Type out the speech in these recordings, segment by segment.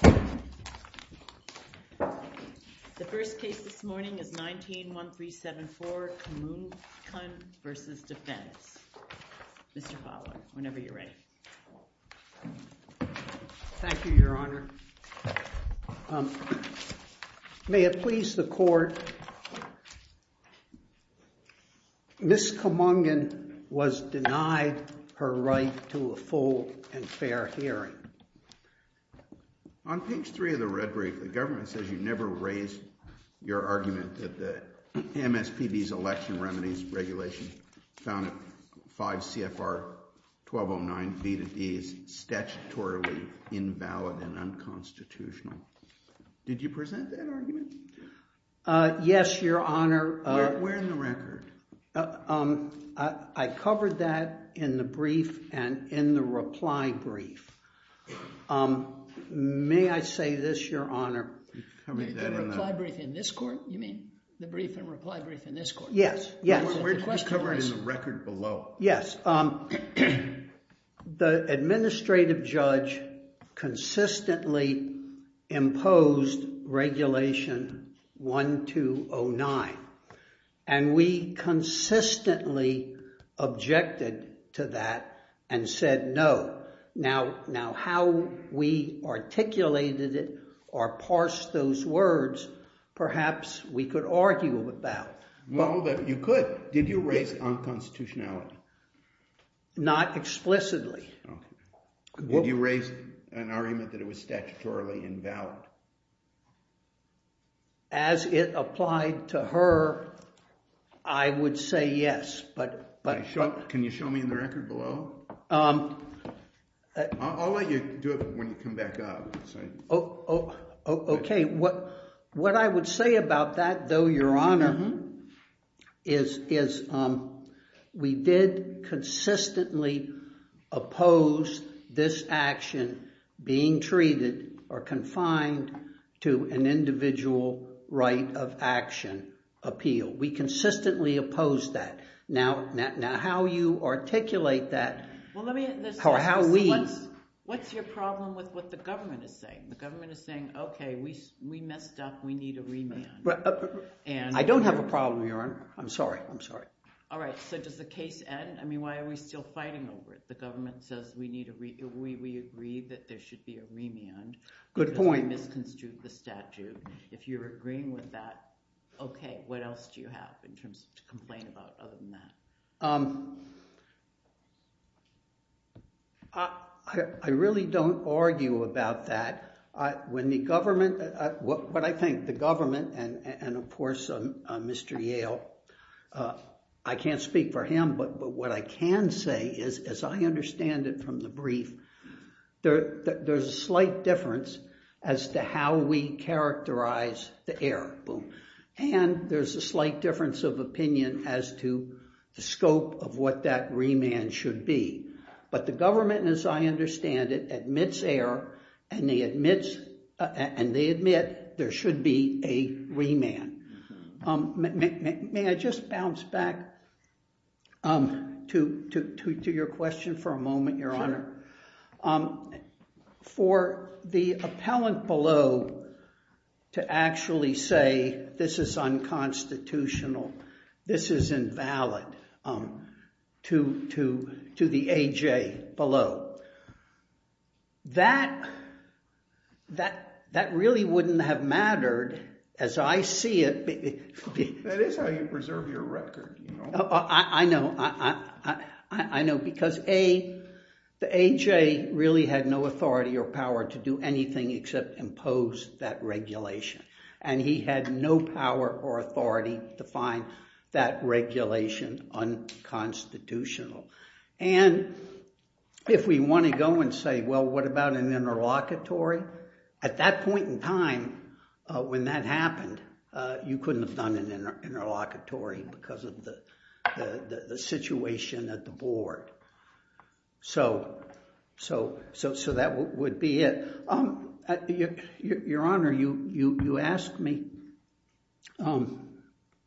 The first case this morning is 19-1374, Kammunkun v. Defense. Mr. Fowler, whenever you're ready. Thank you, Your Honor. May it please the Court, Ms. Kammunkun was denied her right to a full and fair hearing. On page 3 of the red brief, the government says you never raised your argument that the MSPB's Election Remedies Regulation found 5 CFR 1209 V to Ds statutorily invalid and unconstitutional. Did you present that argument? Yes, Your Honor. Where in the May I say this, Your Honor? The reply brief in this court? You mean the brief and reply brief in this court? Yes, yes. We're covering the record below. Yes. The administrative judge consistently imposed Regulation 1209 and we consistently objected to that and said no. Now how we articulated it or parsed those words, perhaps we could argue about. Well, you could. Did you raise unconstitutionality? Not explicitly. Did you raise an argument that it was statutorily invalid? As it applied to her, I would say yes, but. Can you show me in the record below? I'll let you do it when you come back up. Okay, what I would say about that, though, Your Honor, is we did consistently oppose this action being treated or confined to an individual right of action appeal. We consistently opposed that. Now how you articulate that or how we. What's your problem with what the government is saying? The government is saying, okay, we messed up. We need a remand. I don't have a problem, Your Honor. I'm sorry. I'm sorry. All right, so does the case end? I mean, why are we still fighting over it? The government says we need a remand. We agree that there should be a remand. Good point. Because we misconstrued the statute. If you're agreeing with that, okay, what else do you have in terms of to complain about other than that? I really don't argue about that. When the government, what I think the government and of course, Mr. Yale, I can't speak for him, but what I can say is, as I understand it from the brief, there's a slight difference as to how we characterize the error. And there's a slight difference of opinion as to the scope of what that remand should be. But the government, as I understand it, admits error and they admit there should be a remand. May I just bounce back to your question for a moment, Your Honor? Sure. For the appellant below to actually say this is unconstitutional, this is invalid to the AJ below, that really wouldn't have mattered as I see it. That is how you preserve your record. I know because A, the AJ really had no authority or power to do anything except impose that regulation. And he had no power or authority to find that regulation unconstitutional. And if we want to go and say, well, what about an interlocutory? At that point in time, when that happened, you couldn't have done an interlocutory because of the situation at the board. So that would be it. Your Honor, you asked me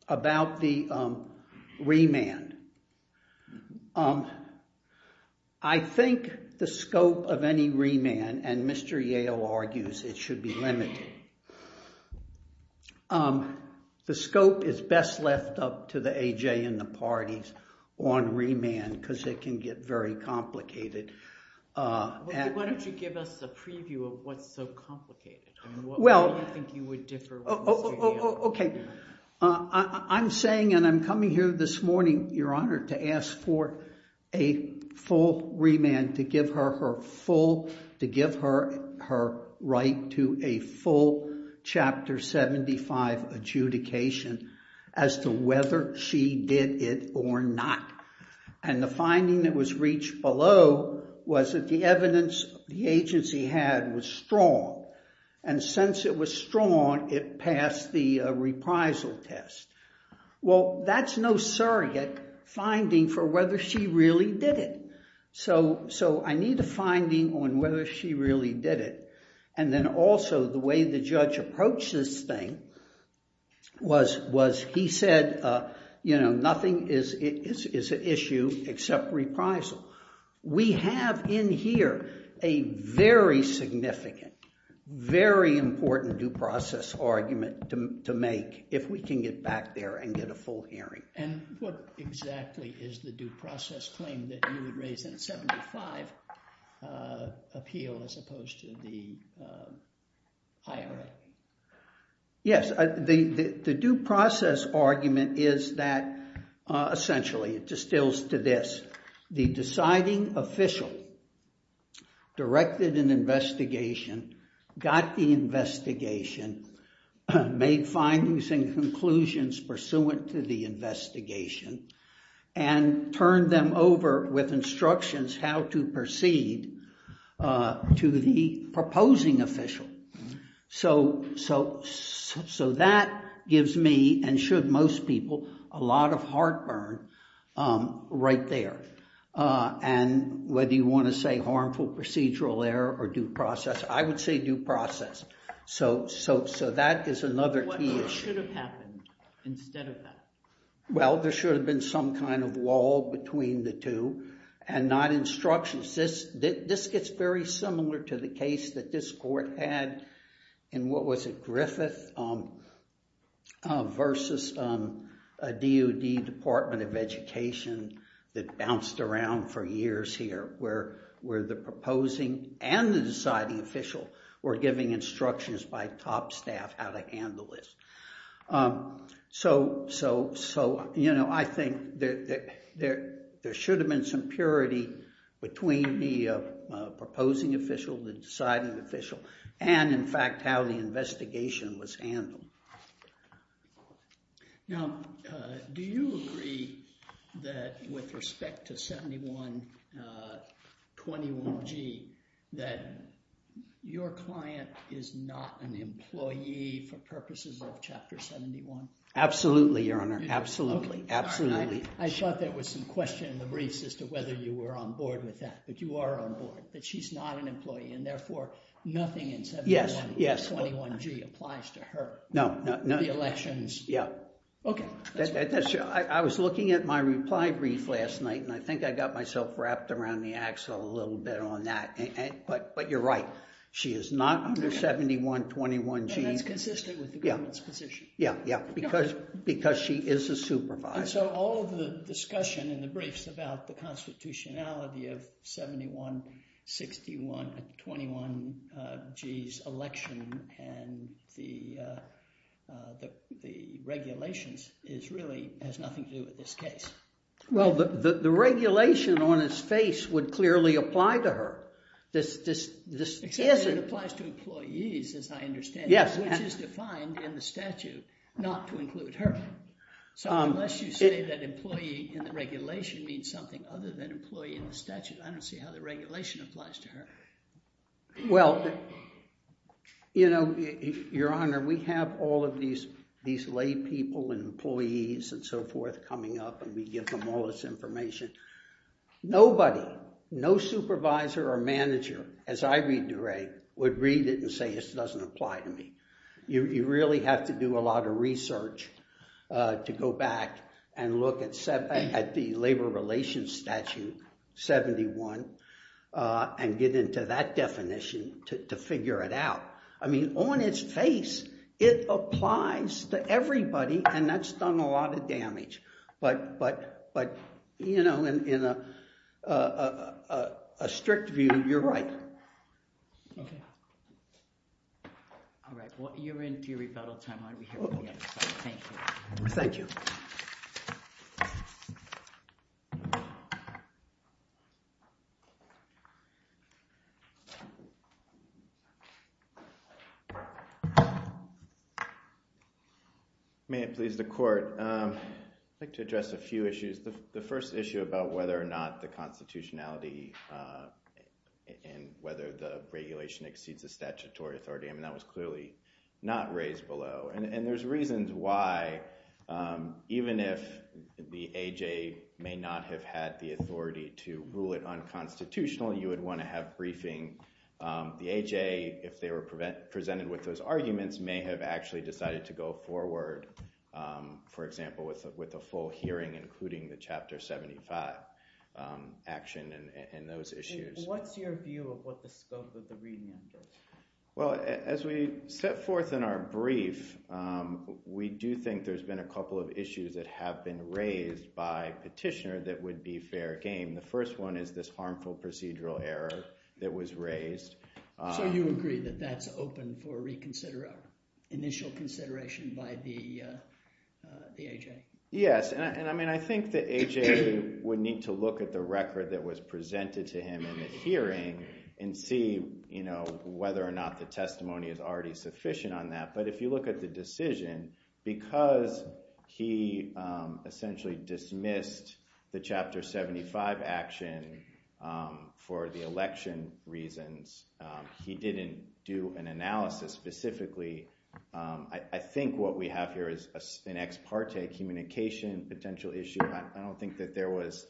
about the remand. I think the scope of any remand, and Mr. Yale argues it should be limited, the scope is best left up to the AJ and the parties on remand because it can get very complicated. Why don't you give us a preview of what's so complicated? I'm saying and I'm coming here this morning, Your Honor, to ask for a full remand, to give her her right to a full Chapter 75 adjudication as to whether she did it or not. And the finding that was reached below was that the evidence the agency had was strong. And since it was strong, it passed the reprisal test. Well, that's no surrogate finding for whether she really did it. So I need a finding on whether she really did it. And then also the way the judge approached this thing was he said, you know, nothing is an issue except reprisal. We have in here a very significant, very important due process argument to make if we can get back there and get a full hearing. And what exactly is the 75 appeal as opposed to the IRA? Yes, the due process argument is that essentially it distills to this. The deciding official directed an investigation, got the investigation, made findings and conclusions pursuant to the investigation, and turned them over with instructions how to proceed to the proposing official. So that gives me and should most people a lot of heartburn right there. And whether you want to say harmful procedural error or due process, I would say due process. So that is another key issue. What should have happened instead of that? Well, there should have been some kind of wall between the two and not instructions. This gets very similar to the case that this court had in, what was it, Griffith versus a DOD Department of Education that bounced around for years here where the proposing and the deciding official were giving instructions by top staff how to handle this. So, you know, I think there should have been some purity between the proposing official, the deciding official, and in fact how the investigation was handled. Now, do you agree that with respect to 7121G that your client is not an employee for purposes of Chapter 71? Absolutely, Your Honor. Absolutely. Absolutely. I thought there was some question in the briefs as to whether you were on board with that, but you are on board, but she's not an employee, and therefore nothing in 7121G applies to her. No, no. The elections. Yeah. Okay. I was looking at my reply brief last night, and I think I got myself wrapped around the axle a little bit on that, but you're right. She is not under 7121G. And that's consistent with the government's position. Yeah, yeah, because she is a supervisor. And so all of the discussion in the briefs about the constitutionality of 7121G's election and the regulations really has nothing to do with this case. Well, the regulation on his face would clearly apply to her. Except that it applies to employees, as I understand it, which is defined in the statute not to include her. So unless you say that employee in the regulation means something other than employee in the statute, I don't see how the regulation applies to her. Well, you know, Your Honor, we have all of these lay people and employees and so forth coming up, and we give them all this information. Nobody, no supervisor or manager, as I read DeRay, would read it and say this doesn't apply to me. You really have to do a lot of research to go back and look at the Labor Relations Statute 71 and get into that definition to figure it out. I mean, on its face, it applies to everybody, and that's done a lot of damage. But, you know, in a strict view, you're right. All right. Well, you're in to your rebuttal time. Thank you. Thank you. May it please the Court. I'd like to address a few issues. The first issue about whether or not the constitutionality and whether the regulation exceeds the statutory authority, I mean, that was clearly not raised below. And there's reasons why, even if the AJ may not have had the authority to rule it unconstitutional, you would want to have briefing. The AJ, if they were presented with those arguments, may have actually decided to go forward, for action in those issues. What's your view of what the scope of the remand is? Well, as we set forth in our brief, we do think there's been a couple of issues that have been raised by petitioner that would be fair game. The first one is this harmful procedural error that was raised. So you agree that that's open for initial consideration by the AJ? Yes. And I mean, I think the AJ would need to look at the record that was presented to him in the hearing and see whether or not the testimony is already sufficient on that. But if you look at the decision, because he essentially dismissed the Chapter 75 action for the election reasons, he didn't do an analysis specifically. I think what we have here is an ex parte communication potential issue. I don't think that there was,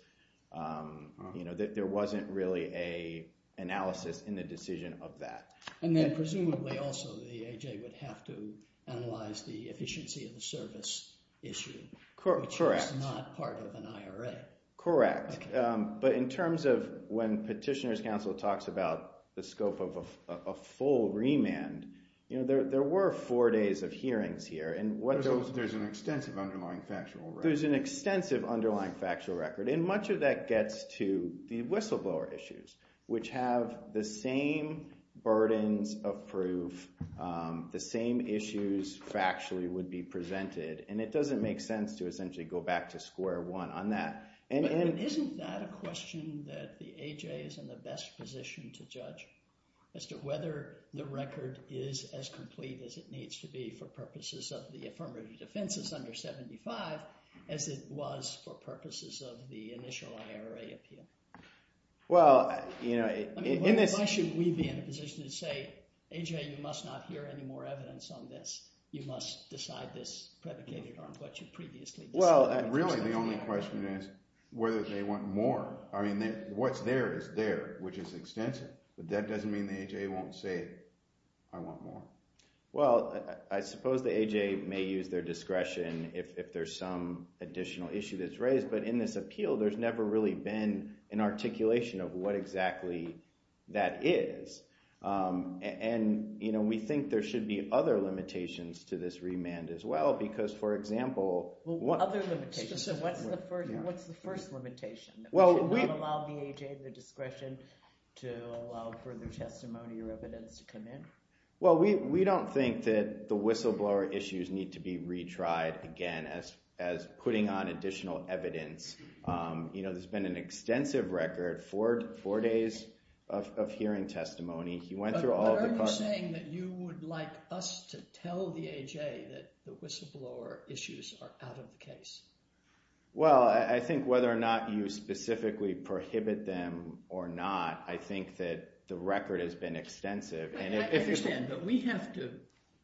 you know, that there wasn't really an analysis in the decision of that. And then presumably also the AJ would have to analyze the efficiency of the service issue. Correct. Which is not part of an IRA. Correct. But in terms of when Petitioner's Counsel talks about the scope of a full remand, you know, there were four days of hearings here. There's an extensive underlying factual record. There's an extensive underlying factual record. And much of that gets to the whistleblower issues, which have the same burdens of proof, the same issues factually would be presented. And it doesn't make sense to essentially go back to square one on that. And isn't that a question that the AJ is in the best position to judge as to whether the record is as complete as it needs to be for purposes of the affirmative defense under 75 as it was for purposes of the initial IRA appeal? Well, you know, in this... Why should we be in a position to say, AJ, you must not hear any more evidence on this. You must decide this predicated on what you previously... Really, the only question is whether they want more. I mean, what's there is there, which is extensive. But that doesn't mean the AJ won't say, I want more. Well, I suppose the AJ may use their discretion if there's some additional issue that's raised. But in this appeal, there's never really been an articulation of what exactly that is. And, you know, we think there should be other limitations to this remand as well because, for example... Other limitations. So what's the first limitation? Should we allow the AJ the discretion to allow further testimony or evidence to come in? Well, we don't think that the whistleblower issues need to be retried again as putting on additional evidence. You know, there's been an extensive record, four days of hearing testimony. He went through all the... So you're saying that you would like us to tell the AJ that the whistleblower issues are out of the case? Well, I think whether or not you specifically prohibit them or not, I think that the record has been extensive. I understand, but we have to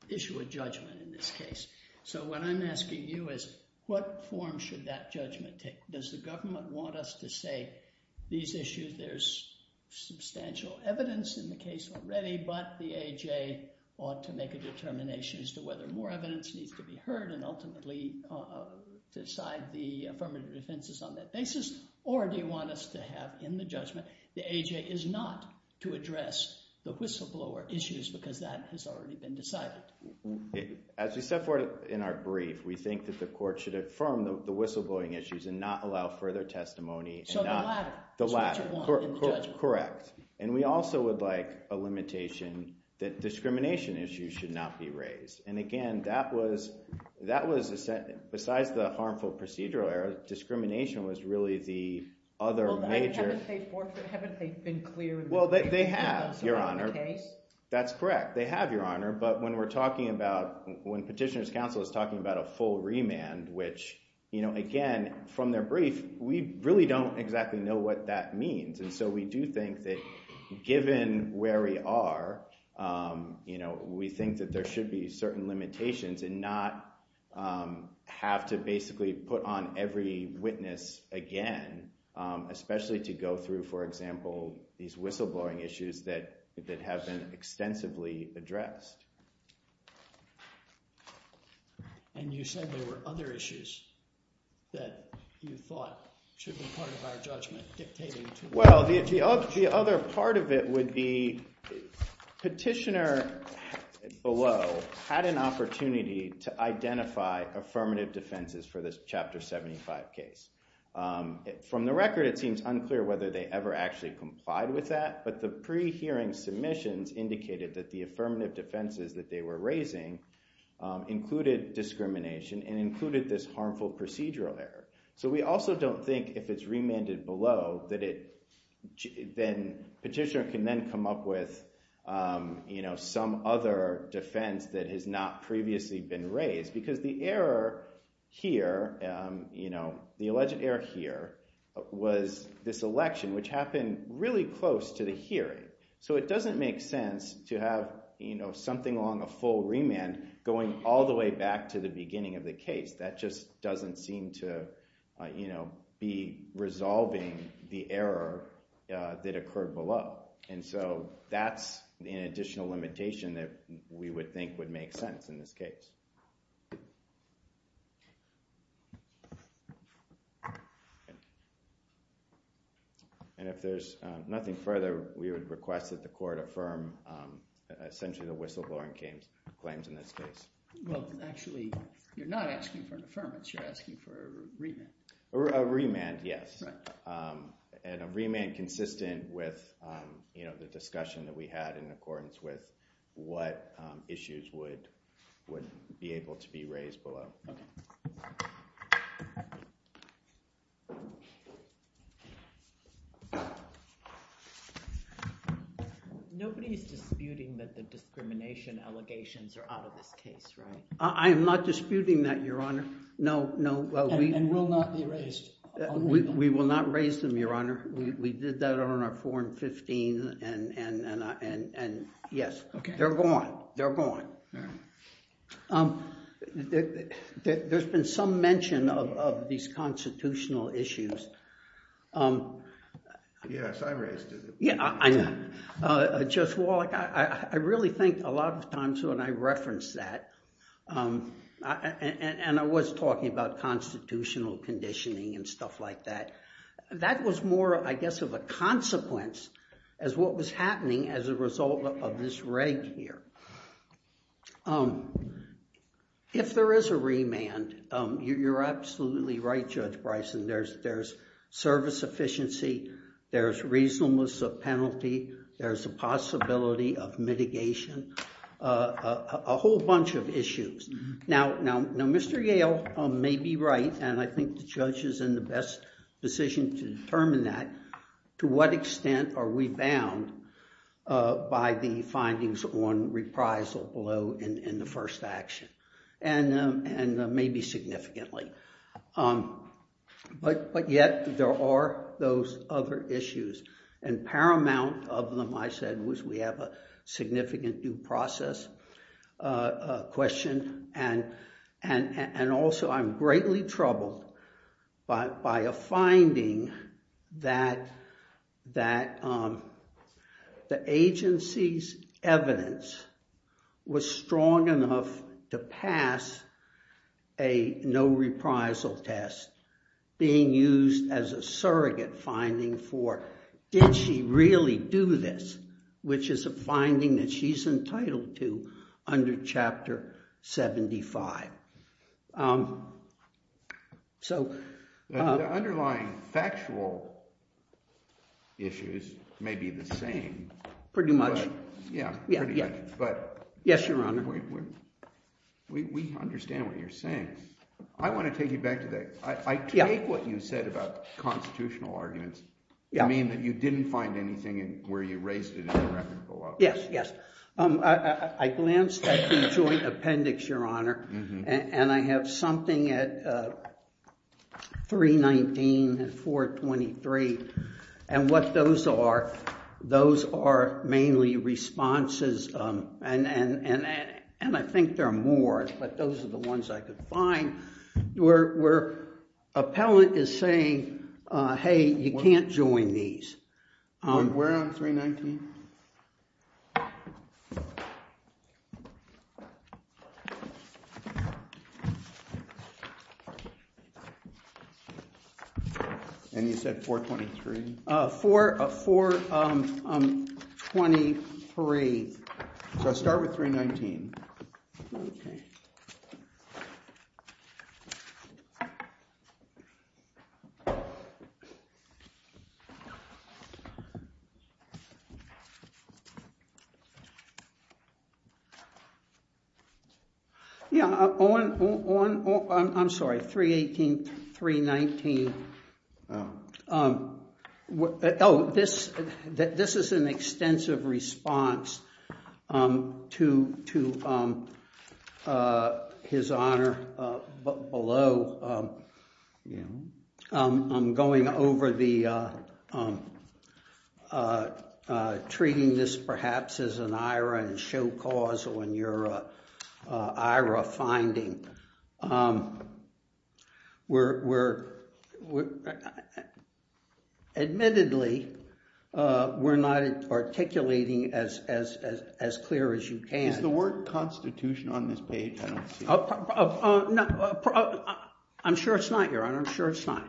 issue a judgment in this case. So what I'm asking you is, what form should that judgment take? Does the government want us to say, these issues, there's substantial evidence in the case, the AJ ought to make a determination as to whether more evidence needs to be heard and ultimately decide the affirmative defenses on that basis? Or do you want us to have in the judgment, the AJ is not to address the whistleblower issues because that has already been decided? As we set forth in our brief, we think that the court should affirm the whistleblowing issues and not allow further testimony. So the latter. The latter. That's what you want in the judgment. Correct. And we also would like a limitation that discrimination issues should not be raised. And again, that was, besides the harmful procedural error, discrimination was really the other major. Haven't they been clear? Well, they have, Your Honor. That's correct. They have, Your Honor. But when we're talking about, when Petitioner's Counsel is talking about a full remand, which, you know, again, from their brief, we really don't exactly know what that means. And so we do think that given where we are, you know, we think that there should be certain limitations and not have to basically put on every witness again, especially to go through, for example, these whistleblowing issues that have been extensively addressed. And you said there were other issues that you thought should be part of our judgment Well, the other part of it would be Petitioner below had an opportunity to identify affirmative defenses for this Chapter 75 case. From the record, it seems unclear whether they ever actually complied with that. But the pre-hearing submissions indicated that the affirmative defenses that they were raising included discrimination and included this harmful procedural error. So we also don't think if it's remanded below that it, then Petitioner can then come up with, you know, some other defense that has not previously been raised. Because the error here, you know, the alleged error here was this election, which happened really close to the hearing. So it doesn't make sense to have, you know, something along a full remand going all the way back to the beginning of the case. That just doesn't seem to, you know, be resolving the error that occurred below. And so that's an additional limitation that we would think would make sense in this case. And if there's nothing further, we would request that the Court affirm essentially the whistleblowing claims in this case. Well, actually, you're not asking for an affirmance. You're asking for a remand. A remand, yes. Right. And a remand consistent with, you know, the discussion that we had in accordance with what issues would be able to be raised below. Okay. Nobody is disputing that the discrimination allegations are out of this case, right? I am not disputing that, Your Honor. No, no. And will not be raised? We will not raise them, Your Honor. We did that on our 4 and 15, and yes. Okay. They're gone. They're gone. All right. There's been some mention of these constitutional issues. Yes, I raised it. Yeah, I know. Judge Wallach, I really think a lot of times when I reference that, and I was talking about constitutional conditioning and stuff like that, that was more, I guess, of a consequence as what was happening as a result of this reg here. If there is a remand, you're absolutely right, Judge Bryson. There's service efficiency, there's reasonableness of penalty, there's a possibility of mitigation, a whole bunch of issues. Now, Mr. Yale may be right, and I think the judge is in the best position to determine that to what extent are we bound by the findings on reprisal below in the first action, and maybe significantly. But yet there are those other issues, and paramount of them, I said, was we have a significant due process question, and also I'm greatly troubled by a finding that the agency's evidence was strong enough to pass a no reprisal test being used as a surrogate finding for did she really do this, which is a finding that she's entitled to under Chapter 75. The underlying factual issues may be the same. Pretty much. Yes, Your Honor. We understand what you're saying. I want to take you back to that. I take what you said about constitutional arguments. You mean that you didn't find anything where you raised it in the record below? Yes, yes. I glanced at the joint appendix, Your Honor, and I have something at 319 and 423, and what those are, those are mainly responses, and I think there are more, but those are the ones I could find where appellant is saying, hey, you can't join these. Where on 319? And you said 423? 423. So start with 319. Yeah. I'm sorry, 318, 319. Oh, this is an extensive response to his Honor below. I'm going over the treating this perhaps as an IRA and show causal in your IRA finding. Admittedly, we're not articulating as clear as you can. Is the word constitution on this page? I'm sure it's not, Your Honor. I'm sure it's not.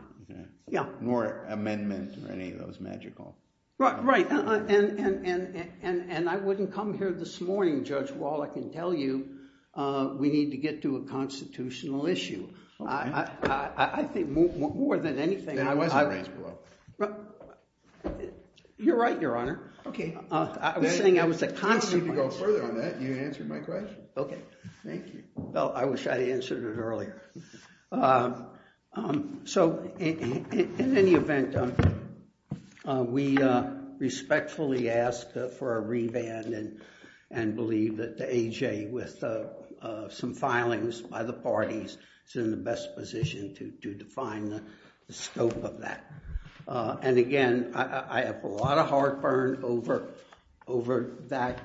Yeah. Nor amendment or any of those magical. Right. And I wouldn't come here this morning, Judge Wall, I can tell you we need to get to a constitutional issue. I think more than anything. Then I wasn't raised below. You're right, Your Honor. Okay. I was saying I was a constitutional. I don't need to go further on that. You answered my question. Okay. Thank you. Well, I wish I answered it earlier. So in any event, we respectfully ask for a reband and believe that the AJ with some filings by the parties is in the best position to define the scope of that. And again, I have a lot of heartburn over that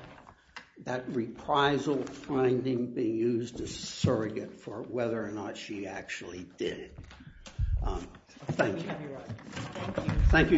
reprisal from the finding being used as surrogate for whether or not she actually did it. Thank you. Thank you, Your Honor.